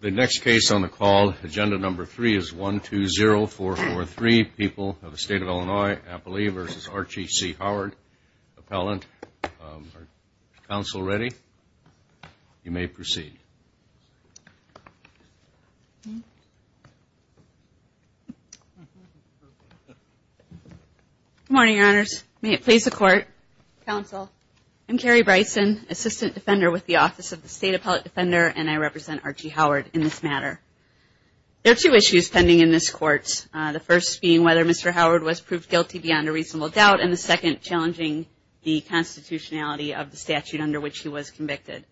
The next case on the call, Agenda Number 3, is 120443, People of the State of Illinois, Appalee v. Archie C. Howard, Appellant. Is the Council ready? You may proceed. Good morning, Your Honors. May it please the Court. Counsel, I'm Carrie Bryson, Assistant Defender with the Office of the State Appellate Defender, and I represent Archie Howard in this matter. There are two issues pending in this Court, the first being whether Mr. Howard was proved guilty beyond a reasonable doubt, and the second challenging the constitutionality of the statute under which he was convicted.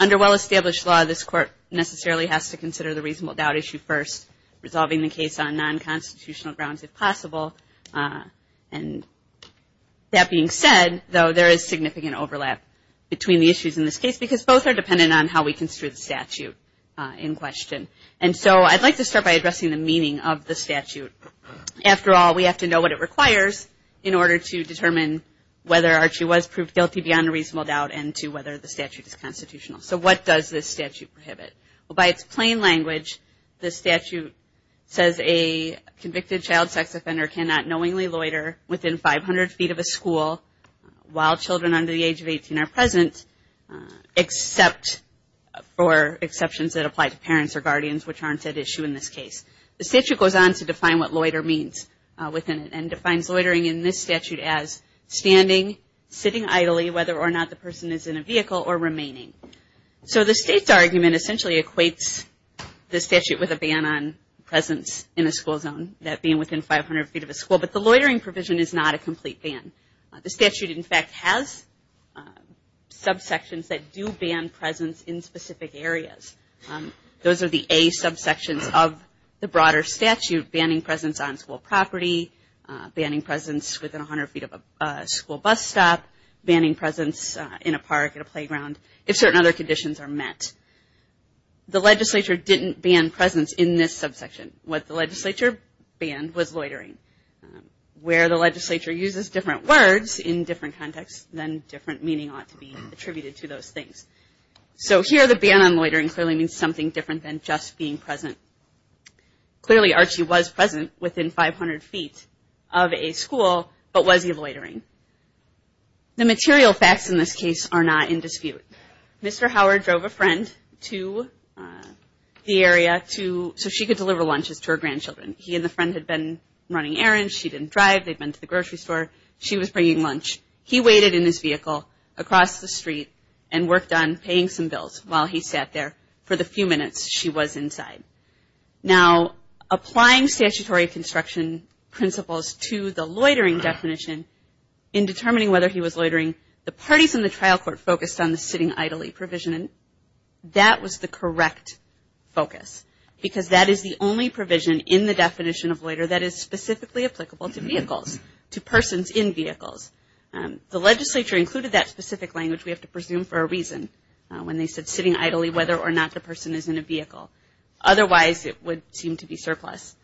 Under well-established law, this Court necessarily has to consider the reasonable doubt issue first, resolving the case on non-constitutional grounds if possible. And that being said, though, there is significant overlap between the issues in this case because both are dependent on how we construe the statute in question. And so I'd like to start by addressing the meaning of the statute. After all, we have to know what it requires in order to determine whether Archie was proved guilty beyond a reasonable doubt and to whether the statute is constitutional. So what does this statute prohibit? Well, by its plain language, the statute says a convicted child sex offender cannot knowingly loiter within 500 feet of a school while children under the age of 18 are present, except for exceptions that apply to parents or guardians, which aren't at issue in this case. The statute goes on to define what loiter means and defines loitering in this statute as standing, sitting idly, whether or not the person is in a vehicle, or remaining. So the state's argument essentially equates the statute with a ban on presence in a school zone, that being within 500 feet of a school, but the loitering provision is not a complete ban. The statute, in fact, has subsections that do ban presence in specific areas. Those are the A subsections of the broader statute, banning presence on school property, banning presence within 100 feet of a school bus stop, banning presence in a park, in a playground. If certain other conditions are met. The legislature didn't ban presence in this subsection. What the legislature banned was loitering. Where the legislature uses different words in different contexts, then different meaning ought to be attributed to those things. So here the ban on loitering clearly means something different than just being present. Clearly Archie was present within 500 feet of a school, but was he loitering? The material facts in this case are not in dispute. Mr. Howard drove a friend to the area so she could deliver lunches to her grandchildren. He and the friend had been running errands. She didn't drive. They'd been to the grocery store. She was bringing lunch. He waited in his vehicle across the street and worked on paying some bills while he sat there for the few minutes she was inside. Now applying statutory construction principles to the loitering definition in determining whether he was loitering, the parties in the trial court focused on the sitting idly provision. That was the correct focus because that is the only provision in the definition of loiter that is specifically applicable to vehicles, to persons in vehicles. The legislature included that specific language, we have to presume for a reason, when they said sitting idly, whether or not the person is in a vehicle. Otherwise, it would seem to be surplus.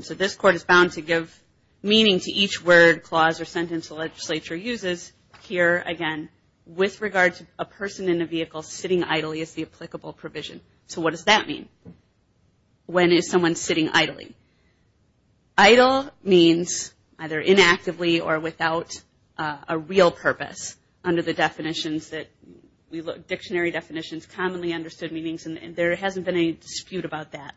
So this court is bound to give meaning to each word, clause, or sentence the legislature uses. Here, again, with regard to a person in a vehicle, sitting idly is the applicable provision. So what does that mean? When is someone sitting idly? Idle means either inactively or without a real purpose under the definitions that we look, dictionary definitions, commonly understood meanings, and there hasn't been any dispute about that.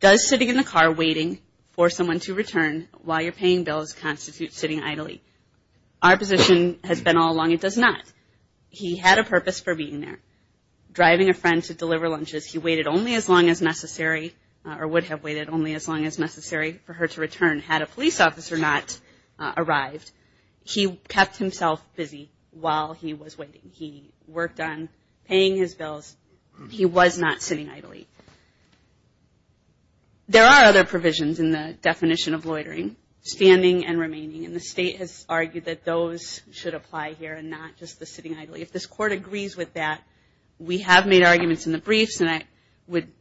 Does sitting in the car waiting for someone to return while you're paying bills constitute sitting idly? Our position has been all along it does not. He had a purpose for being there. Driving a friend to deliver lunches, he waited only as long as necessary or would have waited only as long as necessary for her to return. Had a police officer not arrived, he kept himself busy while he was waiting. He worked on paying his bills. He was not sitting idly. There are other provisions in the definition of loitering, standing and remaining, and the state has argued that those should apply here and not just the sitting idly. If this court agrees with that, we have made arguments in the briefs, and I would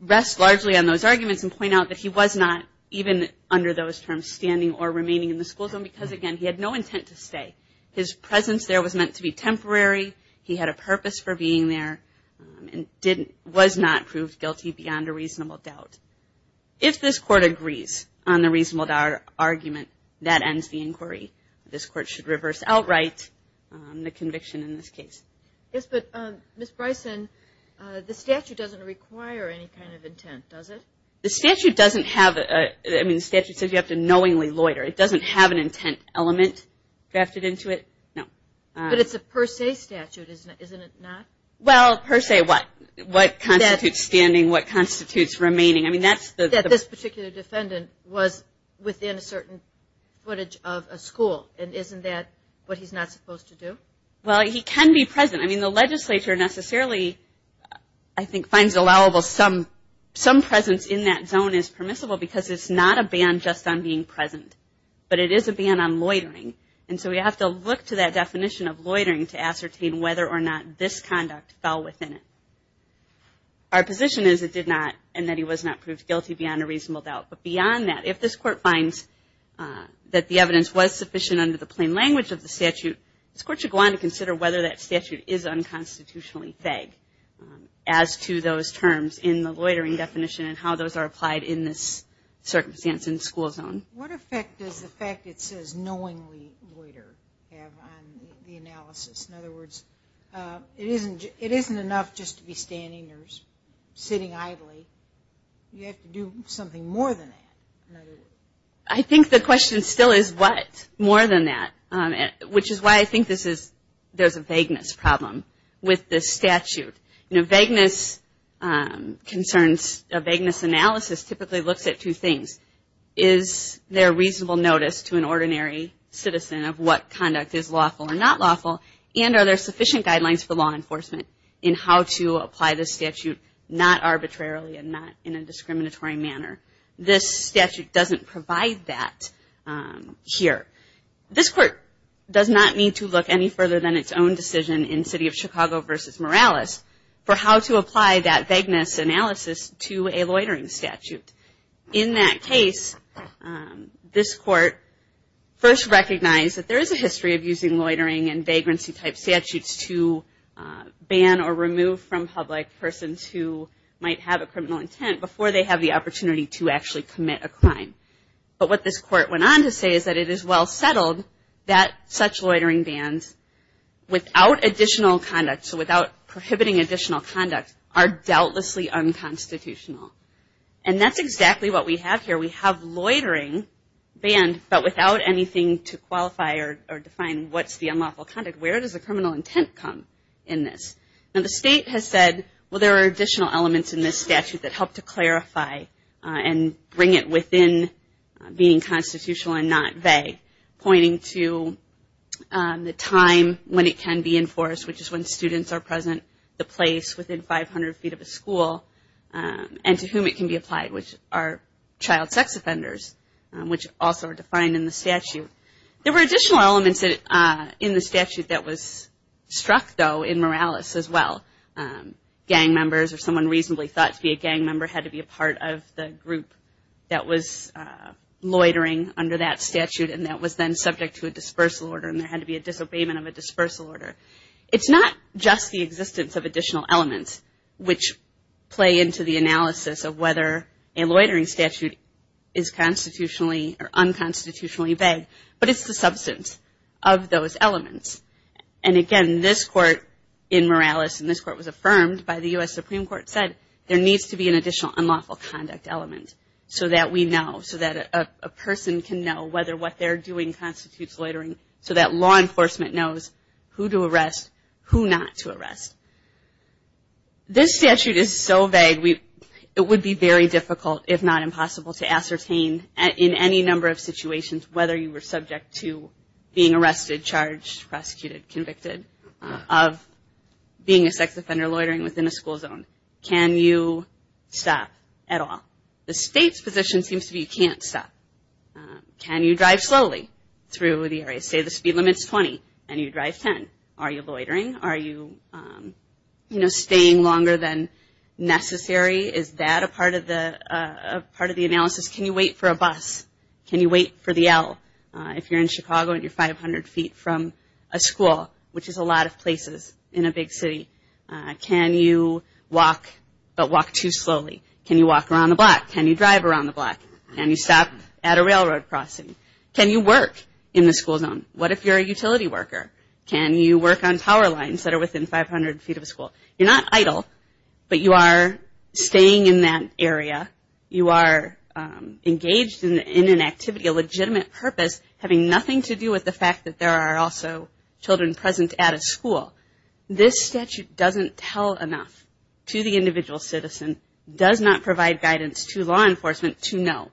rest largely on those arguments and point out that he was not, even under those terms, standing or remaining in the school zone because, again, he had no intent to stay. His presence there was meant to be temporary. He had a purpose for being there and was not proved guilty beyond a reasonable doubt. If this court agrees on the reasonable doubt argument, that ends the inquiry. This court should reverse outright the conviction in this case. Yes, but, Ms. Bryson, the statute doesn't require any kind of intent, does it? The statute doesn't have a – I mean, the statute says you have to knowingly loiter. It doesn't have an intent element drafted into it, no. But it's a per se statute, isn't it not? Well, per se what? What constitutes standing? What constitutes remaining? I mean, that's the – That this particular defendant was within a certain footage of a school, and isn't that what he's not supposed to do? Well, he can be present. I mean, the legislature necessarily, I think, finds allowable some presence in that zone as permissible because it's not a ban just on being present, but it is a ban on loitering. And so we have to look to that definition of loitering to ascertain whether or not this conduct fell within it. Our position is it did not and that he was not proved guilty beyond a reasonable doubt. But beyond that, if this court finds that the evidence was sufficient under the plain language of the statute, this court should go on to consider whether that statute is unconstitutionally vague as to those terms in the loitering definition and how those are applied in this circumstance in the school zone. What effect does the fact it says knowingly loiter have on the analysis? In other words, it isn't enough just to be standing or sitting idly. You have to do something more than that. I think the question still is what more than that, which is why I think there's a vagueness problem with this statute. Vagueness concerns, a vagueness analysis typically looks at two things. Is there reasonable notice to an ordinary citizen of what conduct is lawful or not lawful? And are there sufficient guidelines for law enforcement in how to apply this statute not arbitrarily and not in a discriminatory manner? This statute doesn't provide that here. This court does not need to look any further than its own decision in City of Chicago versus Morales for how to apply that vagueness analysis to a loitering statute. In that case, this court first recognized that there is a history of using loitering and vagrancy type statutes to ban or remove from public persons who might have a criminal intent before they have the opportunity to actually commit a crime. But what this court went on to say is that it is well settled that such loitering bans, without additional conduct, so without prohibiting additional conduct, are doubtlessly unconstitutional. And that's exactly what we have here. We have loitering banned, but without anything to qualify or define what's the unlawful conduct. Where does the criminal intent come in this? Now, the state has said, well, there are additional elements in this statute that help to clarify and bring it within being constitutional and not vague, pointing to the time when it can be enforced, which is when students are present, the place within 500 feet of a school, and to whom it can be applied, which are child sex offenders, which also are defined in the statute. There were additional elements in the statute that was struck, though, in Morales as well. Gang members or someone reasonably thought to be a gang member had to be a part of the group that was loitering under that statute, and that was then subject to a dispersal order, and there had to be a disobeyment of a dispersal order. It's not just the existence of additional elements, which play into the analysis of whether a loitering statute is constitutionally or unconstitutionally vague, but it's the substance of those elements. And again, this court in Morales, and this court was affirmed by the U.S. Supreme Court, said there needs to be an additional unlawful conduct element so that we know, so that a person can know whether what they're doing constitutes loitering, so that law enforcement knows who to arrest, who not to arrest. This statute is so vague, it would be very difficult, if not impossible, to ascertain in any number of situations whether you were subject to being arrested, charged, prosecuted, convicted of being a sex offender loitering within a school zone. Can you stop at all? The state's position seems to be you can't stop. Can you drive slowly through the area? Say the speed limit's 20 and you drive 10. Are you loitering? Are you, you know, staying longer than necessary? Is that a part of the analysis? Can you wait for a bus? Can you wait for the L if you're in Chicago and you're 500 feet from a school, which is a lot of places in a big city? Can you walk, but walk too slowly? Can you walk around the block? Can you drive around the block? Can you stop at a railroad crossing? Can you work in the school zone? What if you're a utility worker? Can you work on power lines that are within 500 feet of a school? You're not idle, but you are staying in that area. You are engaged in an activity, a legitimate purpose, having nothing to do with the fact that there are also children present at a school. This statute doesn't tell enough to the individual citizen, does not provide guidance to law enforcement to know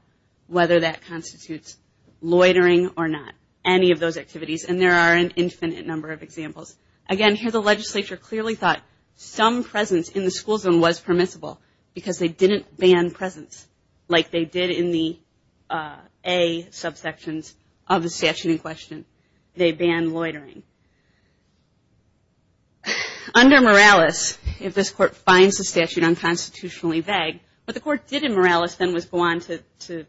whether that constitutes loitering or not, any of those activities, and there are an infinite number of examples. Again, here the legislature clearly thought some presence in the school zone was permissible because they didn't ban presence like they did in the A subsections of the statute in question. They banned loitering. Under Morales, if this court finds the statute unconstitutionally vague, what the court did in Morales then was go on to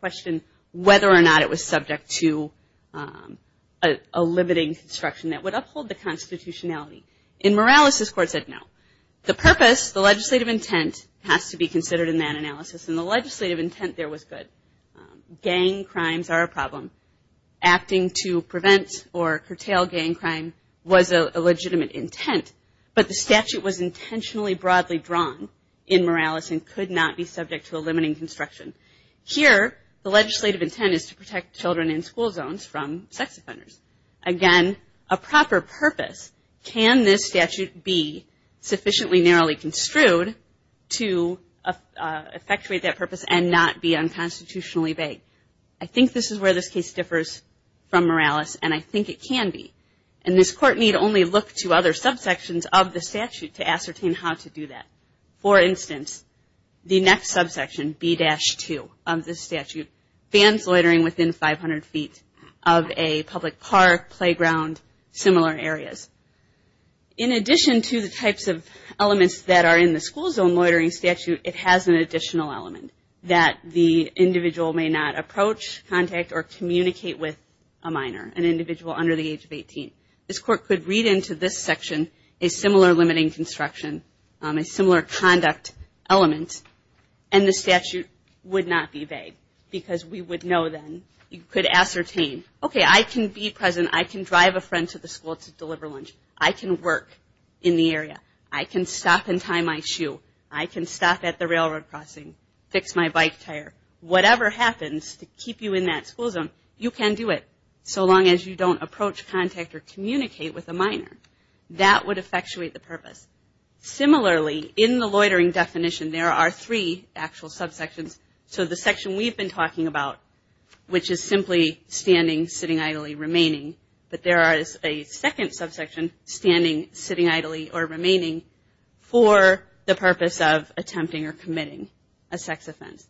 question whether or not it was subject to a limiting construction that would uphold the constitutionality. In Morales, this court said no. The purpose, the legislative intent has to be considered in that analysis, and the legislative intent there was good. Gang crimes are a problem. Acting to prevent or curtail gang crime was a legitimate intent, but the statute was intentionally broadly drawn in Morales and could not be subject to a limiting construction. Here, the legislative intent is to protect children in school zones from sex offenders. Again, a proper purpose. Can this statute be sufficiently narrowly construed to effectuate that purpose and not be unconstitutionally vague? I think this is where this case differs from Morales, and I think it can be. And this court need only look to other subsections of the statute to ascertain how to do that. For instance, the next subsection, B-2 of the statute, bans loitering within 500 feet of a public park, playground, similar areas. In addition to the types of elements that are in the school zone loitering statute, it has an additional element that the individual may not approach, contact, or communicate with a minor, an individual under the age of 18. This court could read into this section a similar limiting construction, a similar conduct element, and the statute would not be vague because we would know then you could ascertain, okay, I can be present, I can drive a friend to the school to deliver lunch, I can work in the area, I can stop and tie my shoe, I can stop at the railroad crossing, fix my bike tire. Whatever happens to keep you in that school zone, you can do it, so long as you don't approach, contact, or communicate with a minor. That would effectuate the purpose. Similarly, in the loitering definition, there are three actual subsections. So the section we've been talking about, which is simply standing, sitting idly, remaining, but there is a second subsection, standing, sitting idly, or remaining, for the purpose of attempting or committing a sex offense.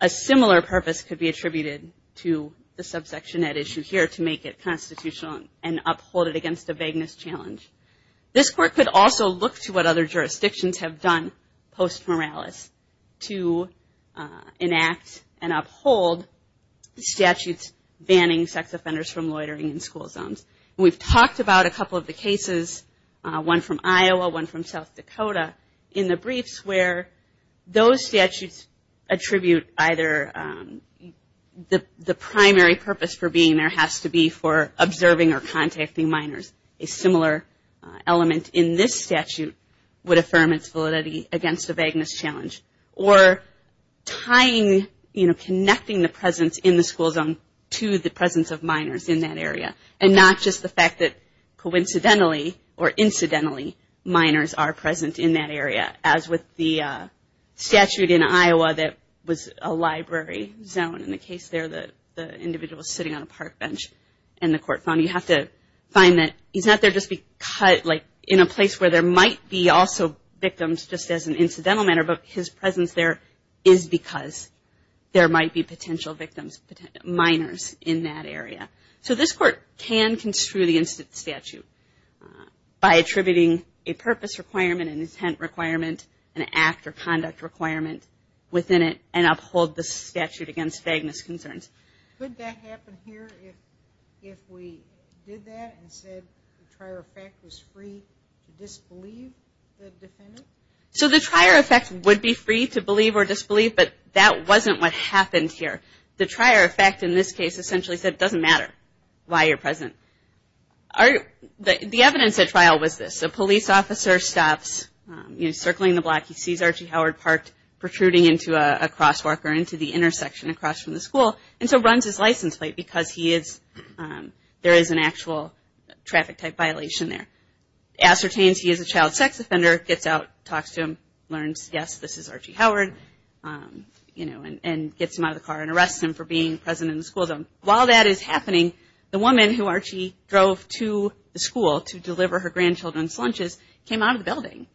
A similar purpose could be attributed to the subsection at issue here to make it constitutional and uphold it against a vagueness challenge. This court could also look to what other jurisdictions have done post-moralis to enact and uphold statutes banning sex offenders from loitering in school zones. We've talked about a couple of the cases, one from Iowa, one from South Dakota, in the briefs where those statutes attribute either the primary purpose for being there has to be for observing or contacting minors. A similar element in this statute would affirm its validity against a vagueness challenge, or tying, you know, connecting the presence in the school zone to the presence of minors in that area, and not just the fact that coincidentally, or incidentally, minors are present in that area, as with the statute in Iowa that was a library zone. In the case there, the individual is sitting on a park bench, and the court found you have to find that he's not there just because, like in a place where there might be also victims just as an incidental matter, but his presence there is because there might be potential victims, minors in that area. So this court can construe the statute by attributing a purpose requirement, an intent requirement, an act or conduct requirement within it, and uphold the statute against vagueness concerns. Could that happen here if we did that, and said the trier effect was free to disbelieve the defendant? So the trier effect would be free to believe or disbelieve, but that wasn't what happened here. The trier effect in this case essentially said it doesn't matter why you're present. The evidence at trial was this. A police officer stops, you know, circling the block. He sees Archie Howard Park protruding into a crosswalk, or into the intersection across from the school, and so runs his license plate because there is an actual traffic type violation there. Ascertains he is a child sex offender, gets out, talks to him, learns, yes, this is Archie Howard, you know, and gets him out of the car and arrests him for being present in the school zone. While that is happening, the woman who Archie drove to the school to deliver her grandchildren's lunches came out of the building,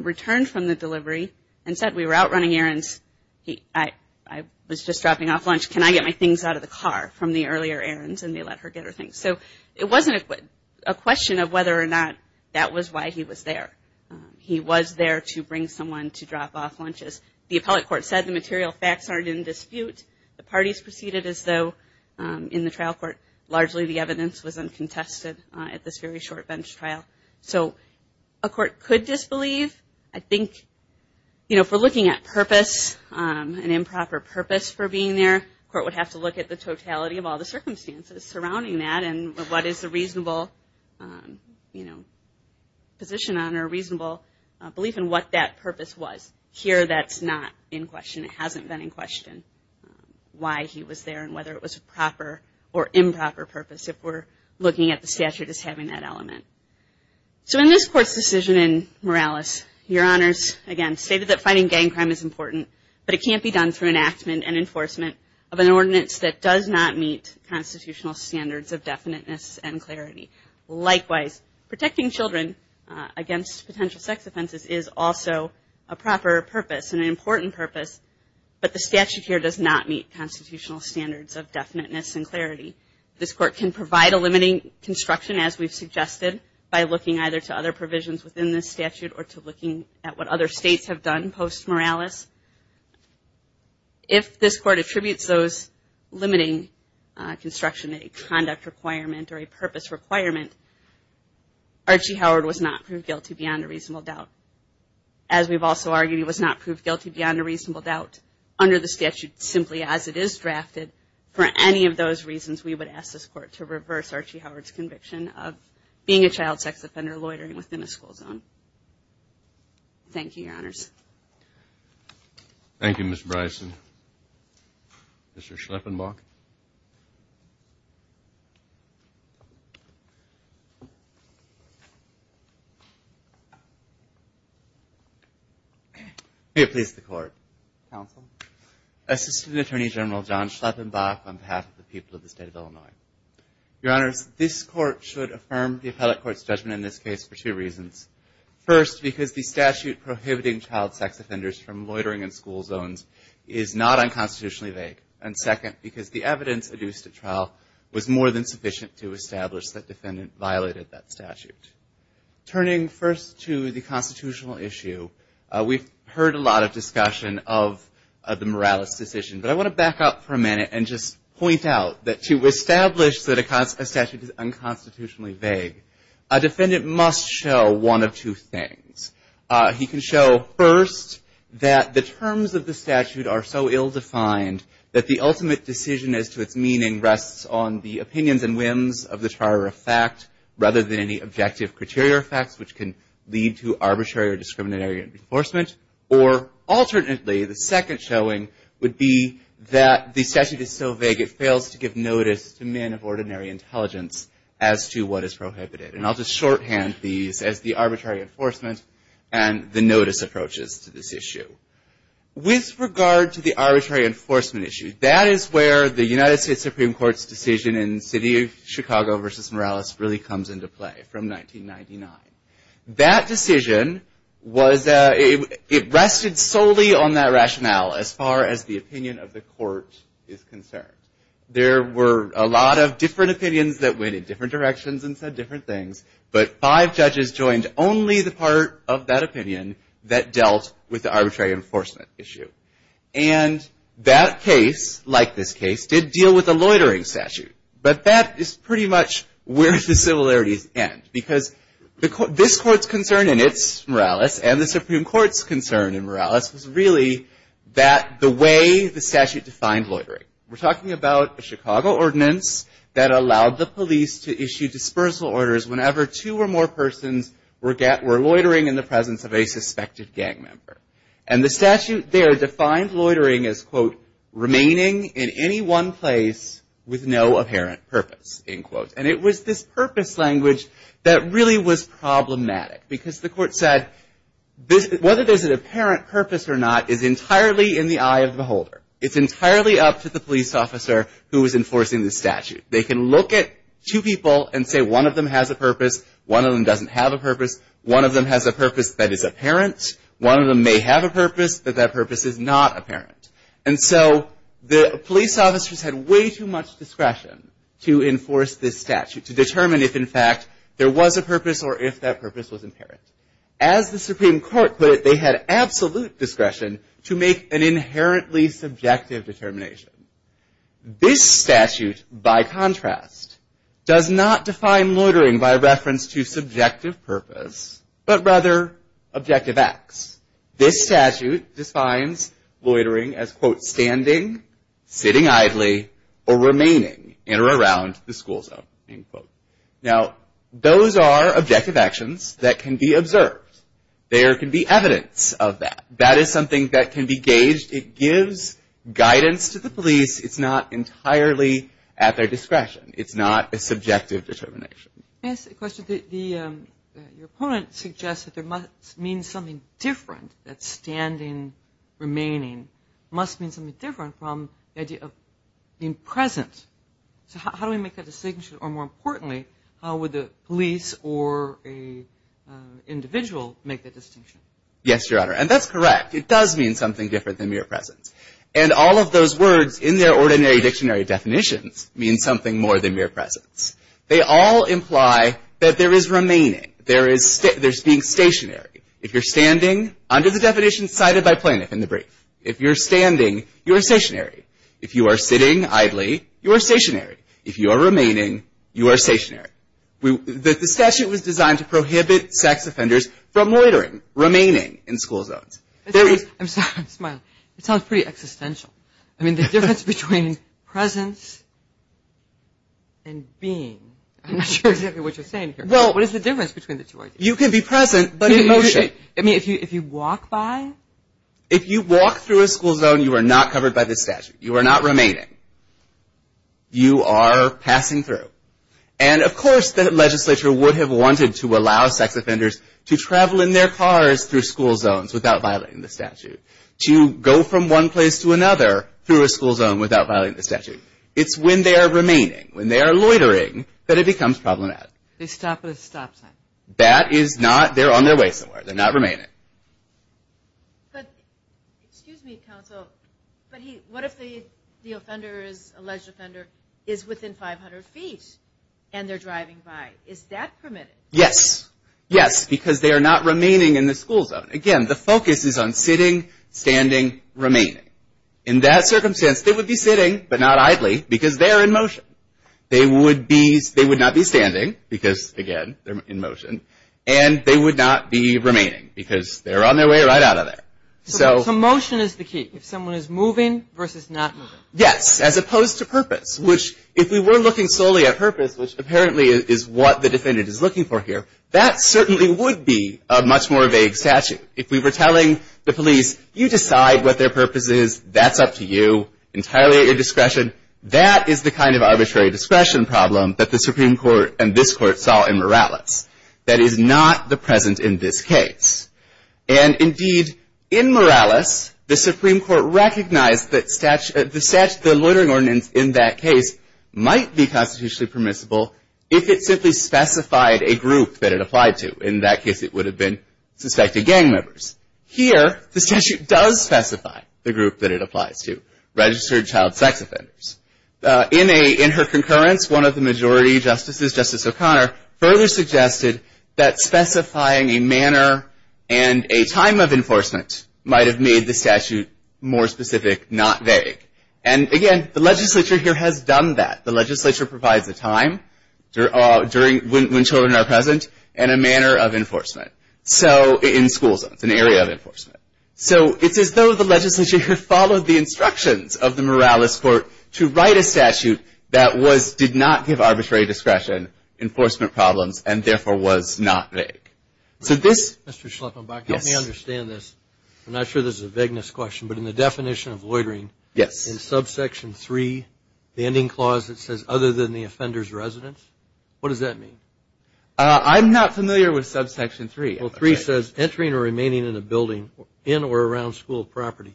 returned from the delivery, and said we were out running errands. I was just dropping off lunch. Can I get my things out of the car from the earlier errands? And they let her get her things. So it wasn't a question of whether or not that was why he was there. He was there to bring someone to drop off lunches. The appellate court said the material facts aren't in dispute. The parties proceeded as though, in the trial court, largely the evidence was uncontested at this very short bench trial. So a court could disbelieve. I think, you know, if we're looking at purpose, an improper purpose for being there, the court would have to look at the totality of all the circumstances surrounding that and what is the reasonable, you know, position on or reasonable belief in what that purpose was. Here that's not in question. It hasn't been in question why he was there and whether it was a proper or improper purpose if we're looking at the statute as having that element. So in this court's decision in Morales, Your Honors, again, stated that fighting gang crime is important, but it can't be done through enactment and enforcement of an ordinance that does not meet constitutional standards of definiteness and clarity. Likewise, protecting children against potential sex offenses is also a proper purpose and an important purpose, but the statute here does not meet constitutional standards of definiteness and clarity. This court can provide a limiting construction, as we've suggested, by looking either to other provisions within this statute or to looking at what other states have done post-Morales. If this court attributes those limiting construction to a conduct requirement or a purpose requirement, Archie Howard was not proved guilty beyond a reasonable doubt. As we've also argued, he was not proved guilty beyond a reasonable doubt under the statute simply as it is drafted for any of those reasons we would ask this court to reverse Archie Howard's conviction of being a child sex offender loitering within a school zone. Thank you, Your Honors. Thank you, Ms. Bryson. Mr. Schleppenbach. May it please the Court, Counsel. Assistant Attorney General John Schleppenbach on behalf of the people of the state of Illinois. Your Honors, this court should affirm the appellate court's judgment in this case for two reasons. First, because the statute prohibiting child sex offenders from loitering in school zones is not unconstitutionally vague. And second, because the evidence adduced at trial was more than sufficient to establish that defendant violated that statute. Turning first to the constitutional issue, we've heard a lot of discussion of the Morales decision, but I want to back up for a minute and just point out that to establish that a statute is unconstitutionally vague, a defendant must show one of two things. He can show, first, that the terms of the statute are so ill-defined that the ultimate decision as to its meaning rests on the opinions and whims of the trier of fact which can lead to arbitrary or discriminatory or non-judgmental arbitrary enforcement. Or alternately, the second showing would be that the statute is so vague it fails to give notice to men of ordinary intelligence as to what is prohibited. And I'll just shorthand these as the arbitrary enforcement and the notice approaches to this issue. With regard to the arbitrary enforcement issue, that is where the United States Supreme Court's decision in the city of Chicago v. Morales really comes into play from 1999. That decision, it rested solely on that rationale as far as the opinion of the court is concerned. There were a lot of different opinions that went in different directions and said different things, but five judges joined only the part of that opinion that dealt with the arbitrary enforcement issue. And that case, like this case, did deal with a loitering statute. But that is pretty much where the similarities end because this court's concern in its Morales and the Supreme Court's concern in Morales was really that the way the statute defined loitering. We're talking about a Chicago ordinance that allowed the police to issue dispersal orders whenever two or more persons were loitering in the presence of a suspected gang member. And the statute there defined loitering as remaining in any one place with no apparent purpose. And it was this purpose language that really was problematic because the court said whether there's an apparent purpose or not is entirely in the eye of the beholder. It's entirely up to the police officer who is enforcing the statute. They can look at two people and say one of them has a purpose, one of them doesn't have a purpose, one of them has a purpose that is apparent, one of them may have a purpose but that purpose is not apparent. And so the police officers had way too much discretion to enforce this statute to determine if in fact there was a purpose or if that purpose was apparent. As the Supreme Court put it, they had absolute discretion to make an inherently subjective determination. This statute, by contrast, does not define loitering by reference to subjective purpose but rather objective acts. This statute defines loitering as standing, sitting idly, or remaining in or around the school zone. Now those are objective actions that can be observed. There can be evidence of that. That is something that can be gauged. It gives guidance to the police. It's not entirely at their discretion. It's not a subjective determination. Let me ask a question. Your opponent suggests that there must mean something different that standing, remaining must mean something different from the idea of being present. So how do we make that distinction? Or more importantly, how would the police or an individual make that distinction? Yes, Your Honor, and that's correct. It does mean something different than mere presence. And all of those words in their ordinary dictionary definitions mean something more than mere presence. They all imply that there is remaining. There is being stationary. If you're standing, under the definition cited by Plaintiff in the brief, if you're standing, you're stationary. If you are sitting idly, you are stationary. If you are remaining, you are stationary. The statute was designed to prohibit sex offenders from loitering, remaining in school zones. I'm sorry, I'm smiling. It sounds pretty existential. I mean, the difference between presence and being. I'm not sure exactly what you're saying here. Well, what is the difference between the two ideas? You can be present, but in motion. I mean, if you walk by? If you walk through a school zone, you are not covered by the statute. You are not remaining. You are passing through. And, of course, the legislature would have wanted to allow sex offenders to travel in their cars through school zones without violating the statute. To go from one place to another through a school zone without violating the statute. It's when they are remaining, when they are loitering, that it becomes problematic. They stop at a stop sign. That is not, they're on their way somewhere. They're not remaining. Excuse me, counsel, but what if the alleged offender is within 500 feet and they're driving by? Is that permitted? Yes. Yes, because they are not remaining in the school zone. Again, the focus is on sitting, standing, remaining. In that circumstance, they would be sitting, but not idly, because they are in motion. They would not be standing, because, again, they're in motion, and they would not be remaining, because they're on their way right out of there. So motion is the key. If someone is moving versus not moving. Yes, as opposed to purpose, which, if we were looking solely at purpose, which apparently is what the defendant is looking for here, that certainly would be a much more vague statute. If we were telling the police, you decide what their purpose is, that's up to you, entirely at your discretion, that is the kind of arbitrary discretion problem that the Supreme Court and this Court saw in Morales. That is not the present in this case. And, indeed, in Morales, the Supreme Court recognized that the loitering ordinance in that case might be constitutionally permissible if it simply specified a group that it applied to. In that case, it would have been suspected gang members. Here, the statute does specify the group that it applies to, registered child sex offenders. In her concurrence, one of the majority justices, Justice O'Connor, further suggested that specifying a manner and a time of enforcement might have made the statute more specific, not vague. And, again, the legislature here has done that. The legislature provides a time when children are present and a manner of enforcement. So, in school zones, an area of enforcement. So, it's as though the legislature here followed the instructions of the Morales Court to write a statute that did not give arbitrary discretion enforcement problems and, therefore, was not vague. Mr. Schleppenbach, help me understand this. I'm not sure this is a vagueness question, but in the definition of loitering, in subsection 3, the ending clause that says other than the offender's residence, what does that mean? I'm not familiar with subsection 3. Well, 3 says entering or remaining in a building in or around school property,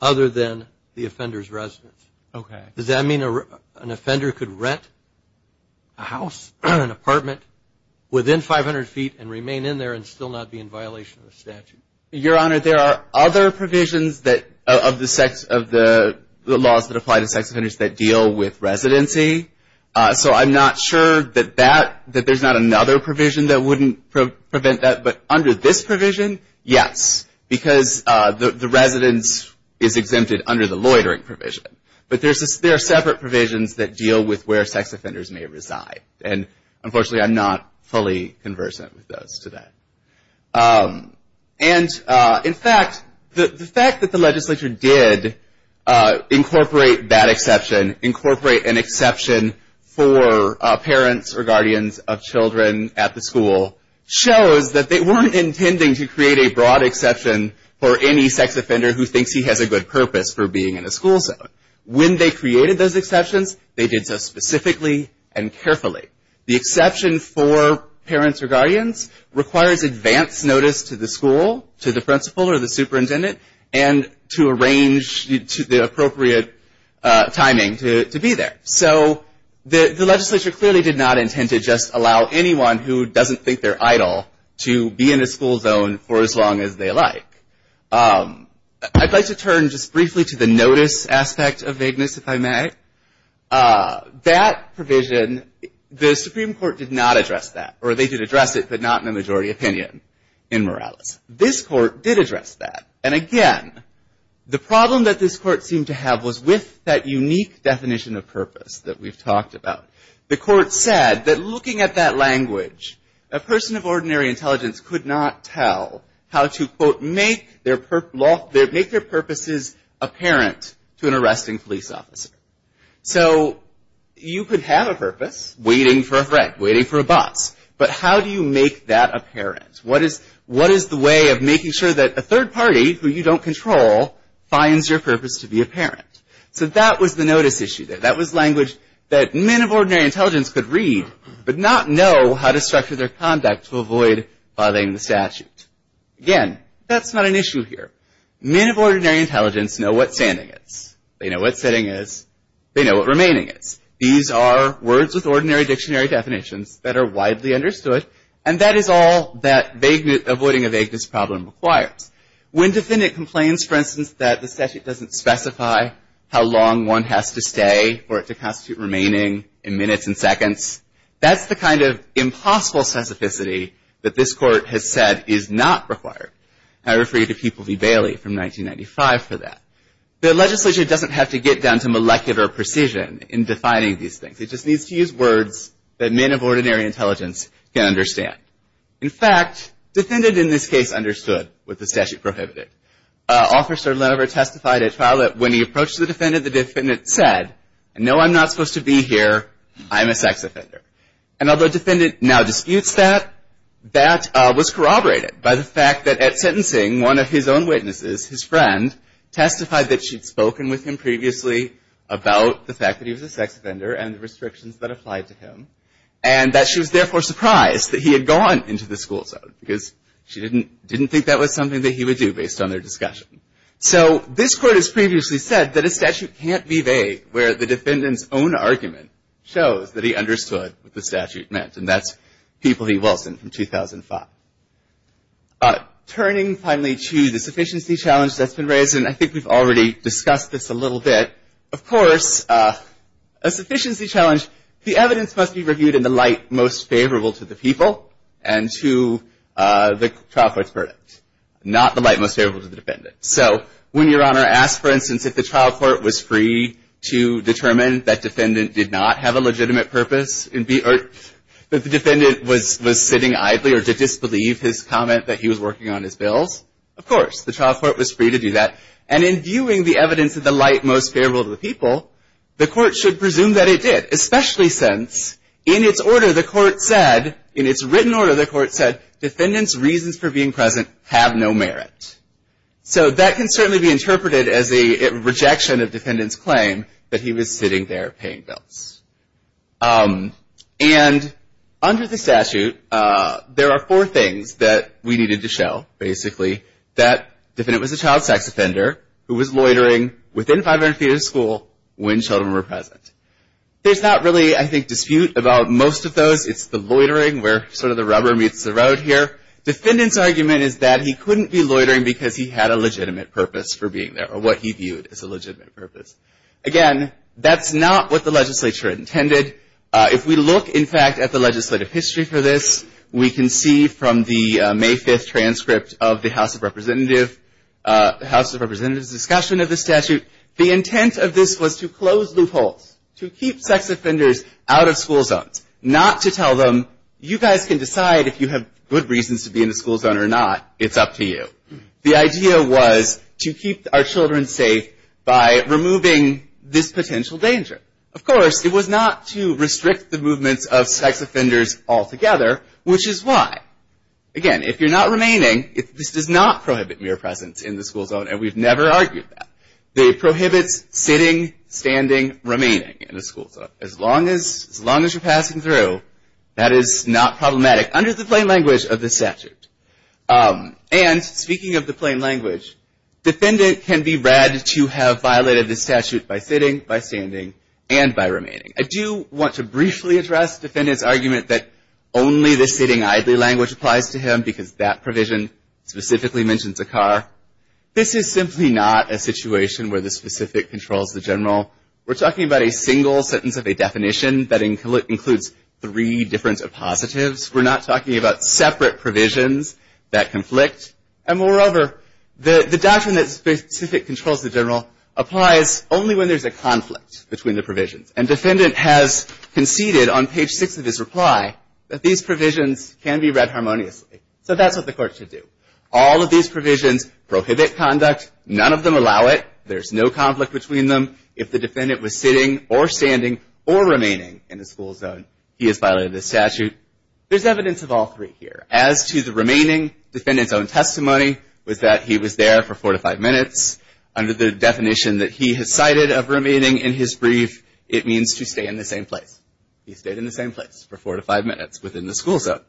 other than the offender's residence. Okay. Does that mean an offender could rent a house, an apartment, within 500 feet and remain in there and still not be in violation of the statute? Your Honor, there are other provisions of the laws that apply to sex offenders that deal with residency. So, I'm not sure that there's not another provision that wouldn't prevent that. But under this provision, yes, because the residence is exempted under the loitering provision. But there are separate provisions that deal with where sex offenders may reside. And, unfortunately, I'm not fully conversant with those today. And, in fact, the fact that the legislature did incorporate that exception, incorporate an exception for parents or guardians of children at the school, shows that they weren't intending to create a broad exception for any sex offender who thinks he has a good purpose for being in a school zone. When they created those exceptions, they did so specifically and carefully. The exception for parents or guardians requires advance notice to the school, to the principal or the superintendent, and to arrange the appropriate timing to be there. So, the legislature clearly did not intend to just allow anyone who doesn't think they're idle to be in a school zone for as long as they like. I'd like to turn just briefly to the notice aspect of Mignus, if I may. That provision, the Supreme Court did not address that. Or, they did address it, but not in a majority opinion in Morales. This court did address that. And, again, the problem that this court seemed to have was with that unique definition of purpose that we've talked about. The court said that looking at that language, a person of ordinary intelligence could not tell how to, quote, make their purposes apparent to an arresting police officer. So, you could have a purpose, waiting for a friend, waiting for a bus, but how do you make that apparent? What is the way of making sure that a third party, who you don't control, finds your purpose to be apparent? So, that was the notice issue there. That was language that men of ordinary intelligence could read, but not know how to structure their conduct to avoid violating the statute. Again, that's not an issue here. Men of ordinary intelligence know what standing is. They know what sitting is. They know what remaining is. These are words with ordinary dictionary definitions that are widely understood, and that is all that avoiding a vagueness problem requires. When defendant complains, for instance, that the statute doesn't specify how long one has to stay for it to constitute remaining in minutes and seconds, that's the kind of impossible specificity that this court has said is not required. I refer you to People v. Bailey from 1995 for that. The legislation doesn't have to get down to molecular precision in defining these things. It just needs to use words that men of ordinary intelligence can understand. In fact, defendant in this case understood what the statute prohibited. Officer Lenover testified at trial that when he approached the defendant, the defendant said, no, I'm not supposed to be here. I'm a sex offender. And although defendant now disputes that, that was corroborated by the fact that at sentencing, one of his own witnesses, his friend, testified that she'd spoken with him previously about the fact that he was a sex offender and the restrictions that applied to him and that she was therefore surprised that he had gone into the school zone because she didn't think that was something that he would do based on their discussion. So this court has previously said that a statute can't be vague where the defendant's own argument shows that he understood what the statute meant. And that's People v. Wilson from 2005. Turning finally to the sufficiency challenge that's been raised, and I think we've already discussed this a little bit. Of course, a sufficiency challenge, the evidence must be reviewed in the light most favorable to the people and to the trial court's verdict, not the light most favorable to the defendant. So when your Honor asks, for instance, if the trial court was free to determine that defendant did not have a legitimate purpose or that the defendant was sitting idly or to disbelieve his comment that he was working on his bills, of course, the trial court was free to do that. And in viewing the evidence in the light most favorable to the people, the court should presume that it did, especially since in its order the court said, in its written order the court said, defendant's reasons for being present have no merit. So that can certainly be interpreted as a rejection of defendant's claim that he was sitting there paying bills. And under the statute, there are four things that we needed to show, basically, that defendant was a child sex offender who was loitering within 500 feet of the school when children were present. There's not really, I think, dispute about most of those. It's the loitering where sort of the rubber meets the road here. Defendant's argument is that he couldn't be loitering because he had a legitimate purpose for being there or what he viewed as a legitimate purpose. Again, that's not what the legislature intended. If we look, in fact, at the legislative history for this, we can see from the May 5th transcript of the House of Representatives' discussion of the statute, the intent of this was to close loopholes, to keep sex offenders out of school zones, not to tell them, you guys can decide if you have good reasons to be in a school zone or not, it's up to you. The idea was to keep our children safe by removing this potential danger. Of course, it was not to restrict the movements of sex offenders altogether, which is why. Again, if you're not remaining, this does not prohibit mere presence in the school zone, and we've never argued that. It prohibits sitting, standing, remaining in a school zone. As long as you're passing through, that is not problematic under the plain language of this statute. And speaking of the plain language, defendant can be read to have violated this statute by sitting, by standing, and by remaining. I do want to briefly address the defendant's argument that only the sitting idly language applies to him because that provision specifically mentions a car. This is simply not a situation where the specific controls the general. We're talking about a single sentence of a definition that includes three different positives. We're not talking about separate provisions that conflict. And moreover, the doctrine that specific controls the general applies only when there's a conflict between the provisions. And defendant has conceded on page 6 of his reply that these provisions can be read harmoniously. So that's what the court should do. All of these provisions prohibit conduct. None of them allow it. There's no conflict between them. If the defendant was sitting or standing or remaining in a school zone, he has violated the statute. There's evidence of all three here. As to the remaining, defendant's own testimony was that he was there for four to five minutes. Under the definition that he has cited of remaining in his brief, it means to stay in the same place. He stayed in the same place for four to five minutes within the school zone.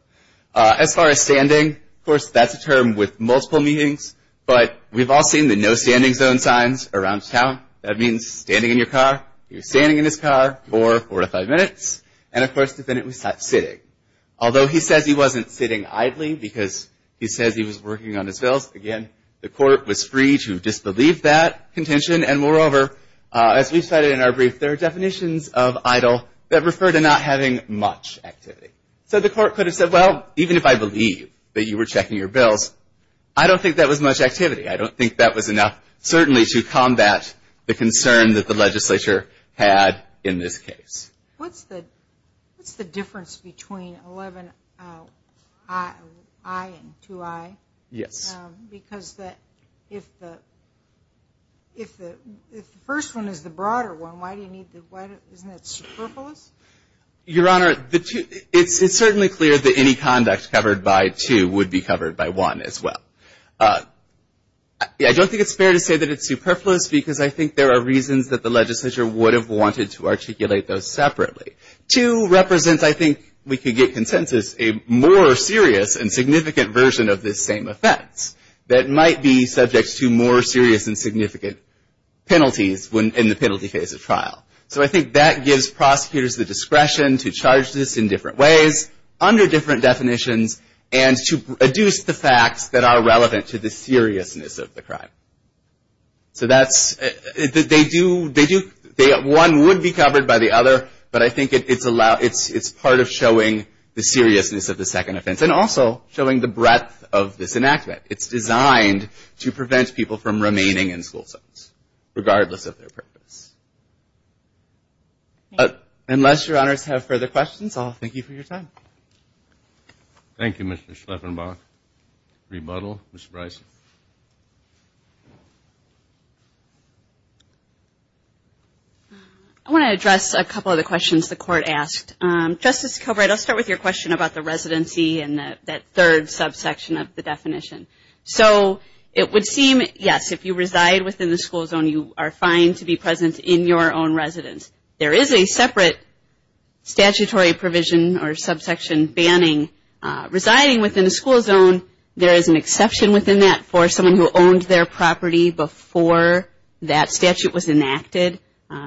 As far as standing, of course, that's a term with multiple meanings. But we've all seen the no standing zone signs around town. That means standing in your car. He was standing in his car for four to five minutes. And of course, the defendant was not sitting. Although he says he wasn't sitting idly because he says he was working on his bills, again, the court was free to disbelieve that contention. And moreover, as we've cited in our brief, there are definitions of idle that refer to not having much activity. So the court could have said, well, even if I believe that you were checking your bills, I don't think that was much activity. I don't think that was enough certainly to combat the concern that the legislature had in this case. What's the difference between 11i and 2i? Yes. Because if the first one is the broader one, isn't that superfluous? Your Honor, it's certainly clear that any conduct covered by two would be covered by one as well. I don't think it's fair to say that it's superfluous because I think there are reasons that the legislature would have wanted to articulate those separately. Two represents, I think we could get consensus, a more serious and significant version of this same offense that might be subject to more serious and significant penalties in the penalty phase of trial. So I think that gives prosecutors the discretion to charge this in different ways, under different definitions, and to adduce the facts that are relevant to the seriousness of the crime. One would be covered by the other, but I think it's part of showing the seriousness of the second offense and also showing the breadth of this enactment. It's designed to prevent people from remaining in school zones, regardless of their purpose. Unless Your Honors have further questions, I'll thank you for your time. Thank you, Mr. Schleffenbach. Rebuttal, Ms. Bryson. I want to address a couple of the questions the Court asked. Justice Kilbride, I'll start with your question about the residency and that third subsection of the definition. It would seem, yes, if you reside within the school zone, you are fine to be present in your own residence. There is a separate statutory provision or subsection banning. Residing within a school zone, there is an exception within that for someone who owned their property before that statute was enacted,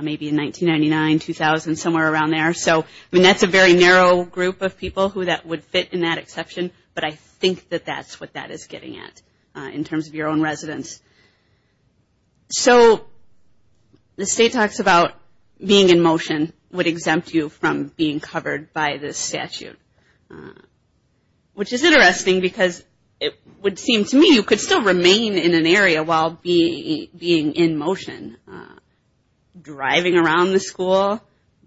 maybe in 1999, 2000, somewhere around there. That's a very narrow group of people who would fit in that exception, but I think that that's what that is getting at, in terms of your own residence. So the state talks about being in motion would exempt you from being covered by this statute, which is interesting because it would seem to me you could still remain in an area while being in motion. Driving around the school,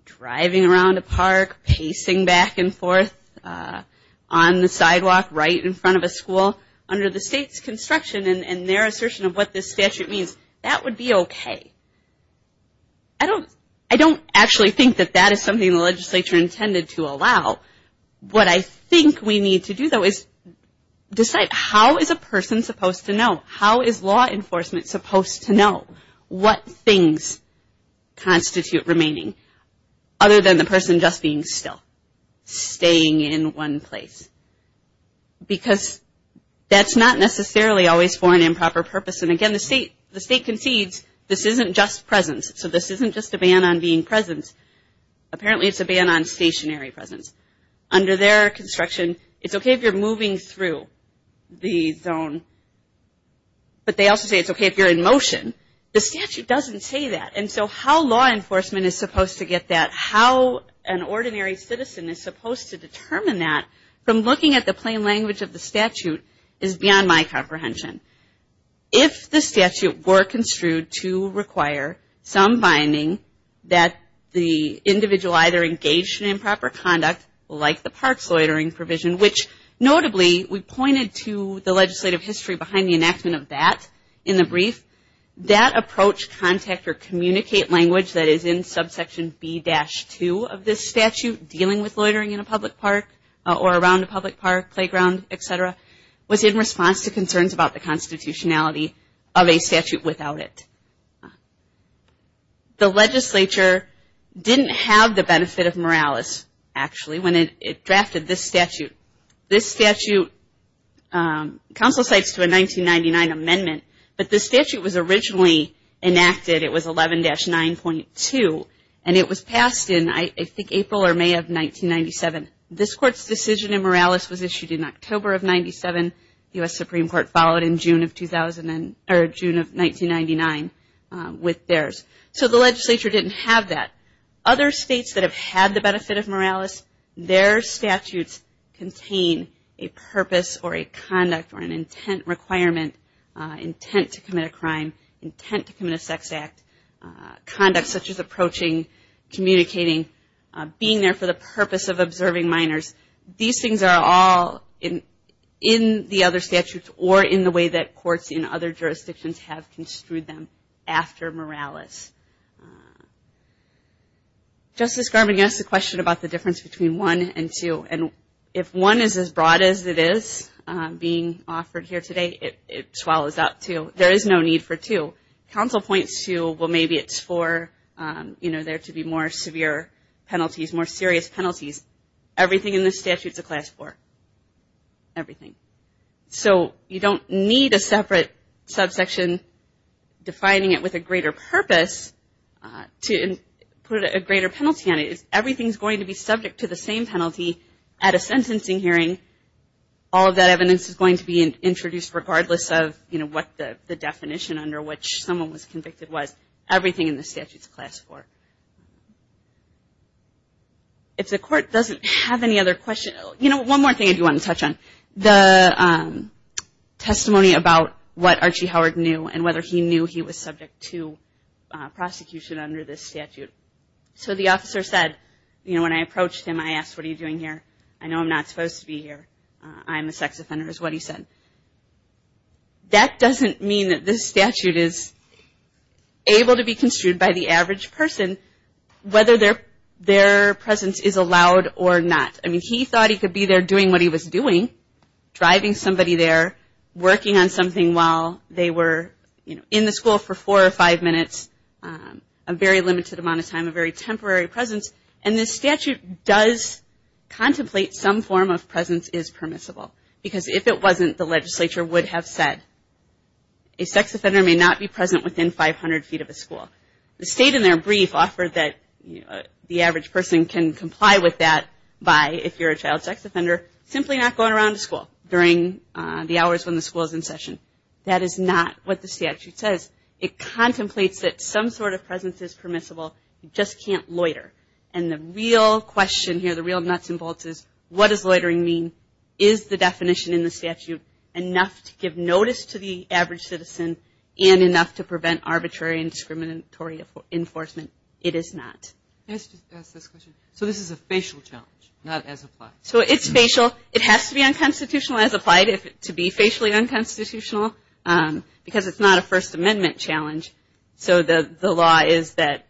driving around a park, pacing back and forth on the sidewalk right in front of a school under the state's construction and their assertion of what this statute means, that would be okay. I don't actually think that that is something the legislature intended to allow. What I think we need to do, though, is decide how is a person supposed to know? How is law enforcement supposed to know what things constitute remaining, other than the person just being still, staying in one place? Because that's not necessarily always for an improper purpose, and again, the state concedes this isn't just presence, so this isn't just a ban on being present. Apparently it's a ban on stationary presence. Under their construction, it's okay if you're moving through the zone, but they also say it's okay if you're in motion. The statute doesn't say that, and so how law enforcement is supposed to get that, how an ordinary citizen is supposed to determine that from looking at the plain language of the statute is beyond my comprehension. If the statute were construed to require some binding that the individual either engaged in improper conduct, like the parks loitering provision, which notably we pointed to the legislative history behind the enactment of that in the brief, that approach, contact, or communicate language that is in subsection B-2 of this statute, dealing with loitering in a public park or around a public park, playground, etc., was in response to concerns about the constitutionality of a statute without it. The legislature didn't have the benefit of Morales, actually, when it drafted this statute. This statute, counsel cites to a 1999 amendment, but this statute was originally enacted, it was 11-9.2, and it was passed in, I think, April or May of 1997. This court's decision in Morales was issued in October of 97, the U.S. Supreme Court followed in June of 1999 with theirs. So the legislature didn't have that. Other states that have had the benefit of Morales, their statutes contain a purpose or a conduct or an intent requirement, intent to commit a crime, intent to commit a sex act, conduct such as approaching, communicating, being there for the purpose of observing minors, these things are all in the other statutes or in the way that courts in other jurisdictions have construed them after Morales. Justice Garmon, you asked a question about the difference between 1 and 2, and if 1 is as broad as it is being offered here today, it swallows up 2. There is no need for 2. Counsel points to, well, maybe it's for there to be more severe penalties, more serious penalties. Everything in this statute's a class 4. Everything. So you don't need a separate subsection defining it with a greater purpose to put a greater penalty on it. Everything is going to be subject to the same penalty at a sentencing hearing. All of that evidence is going to be introduced regardless of what the definition under which someone was convicted was. Everything in this statute is class 4. If the court doesn't have any other questions, you know, one more thing I do want to touch on. The testimony about what Archie Howard knew and whether he knew he was subject to prosecution under this statute. So the officer said, you know, when I approached him I asked, what are you doing here? I know I'm not supposed to be here. I'm a sex offender is what he said. That doesn't mean that this statute is able to be construed by the average person whether their presence is allowed or not. I mean, he thought he could be there doing what he was doing, driving somebody there, working on something while they were, you know, in the school for four or five minutes, a very limited amount of time, a very temporary presence. And this statute does contemplate some form of presence is permissible because if it wasn't, the legislature would have said a sex offender may not be present within 500 feet of a school. The state in their brief offered that the average person can comply with that by, if you're a child sex offender, simply not going around to school during the hours when the school is in session. That is not what the statute says. It contemplates that some sort of presence is permissible, you just can't loiter. And the real question here, the real nuts and bolts is, what does loitering mean? Is the definition in the statute enough to give notice to the average citizen and enough to prevent arbitrary and discriminatory enforcement? It is not. So this is a facial challenge, not as applied. So it's facial. It has to be unconstitutional as applied to be facially unconstitutional because it's not a First Amendment challenge. So the law is that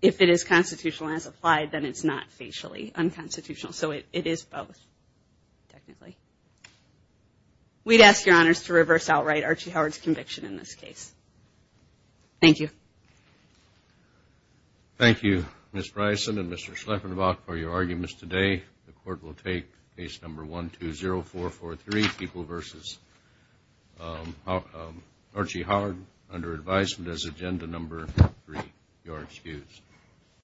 if it is constitutional as applied, then it's not facially unconstitutional. So it is both, technically. We'd ask your honors to reverse outright Archie Howard's conviction in this case. Thank you. Thank you, Ms. Bryson and Mr. Schleffenbach, for your arguments today. The court will take case number 120443, people versus Archie Howard under advisement as agenda number three. You are excused.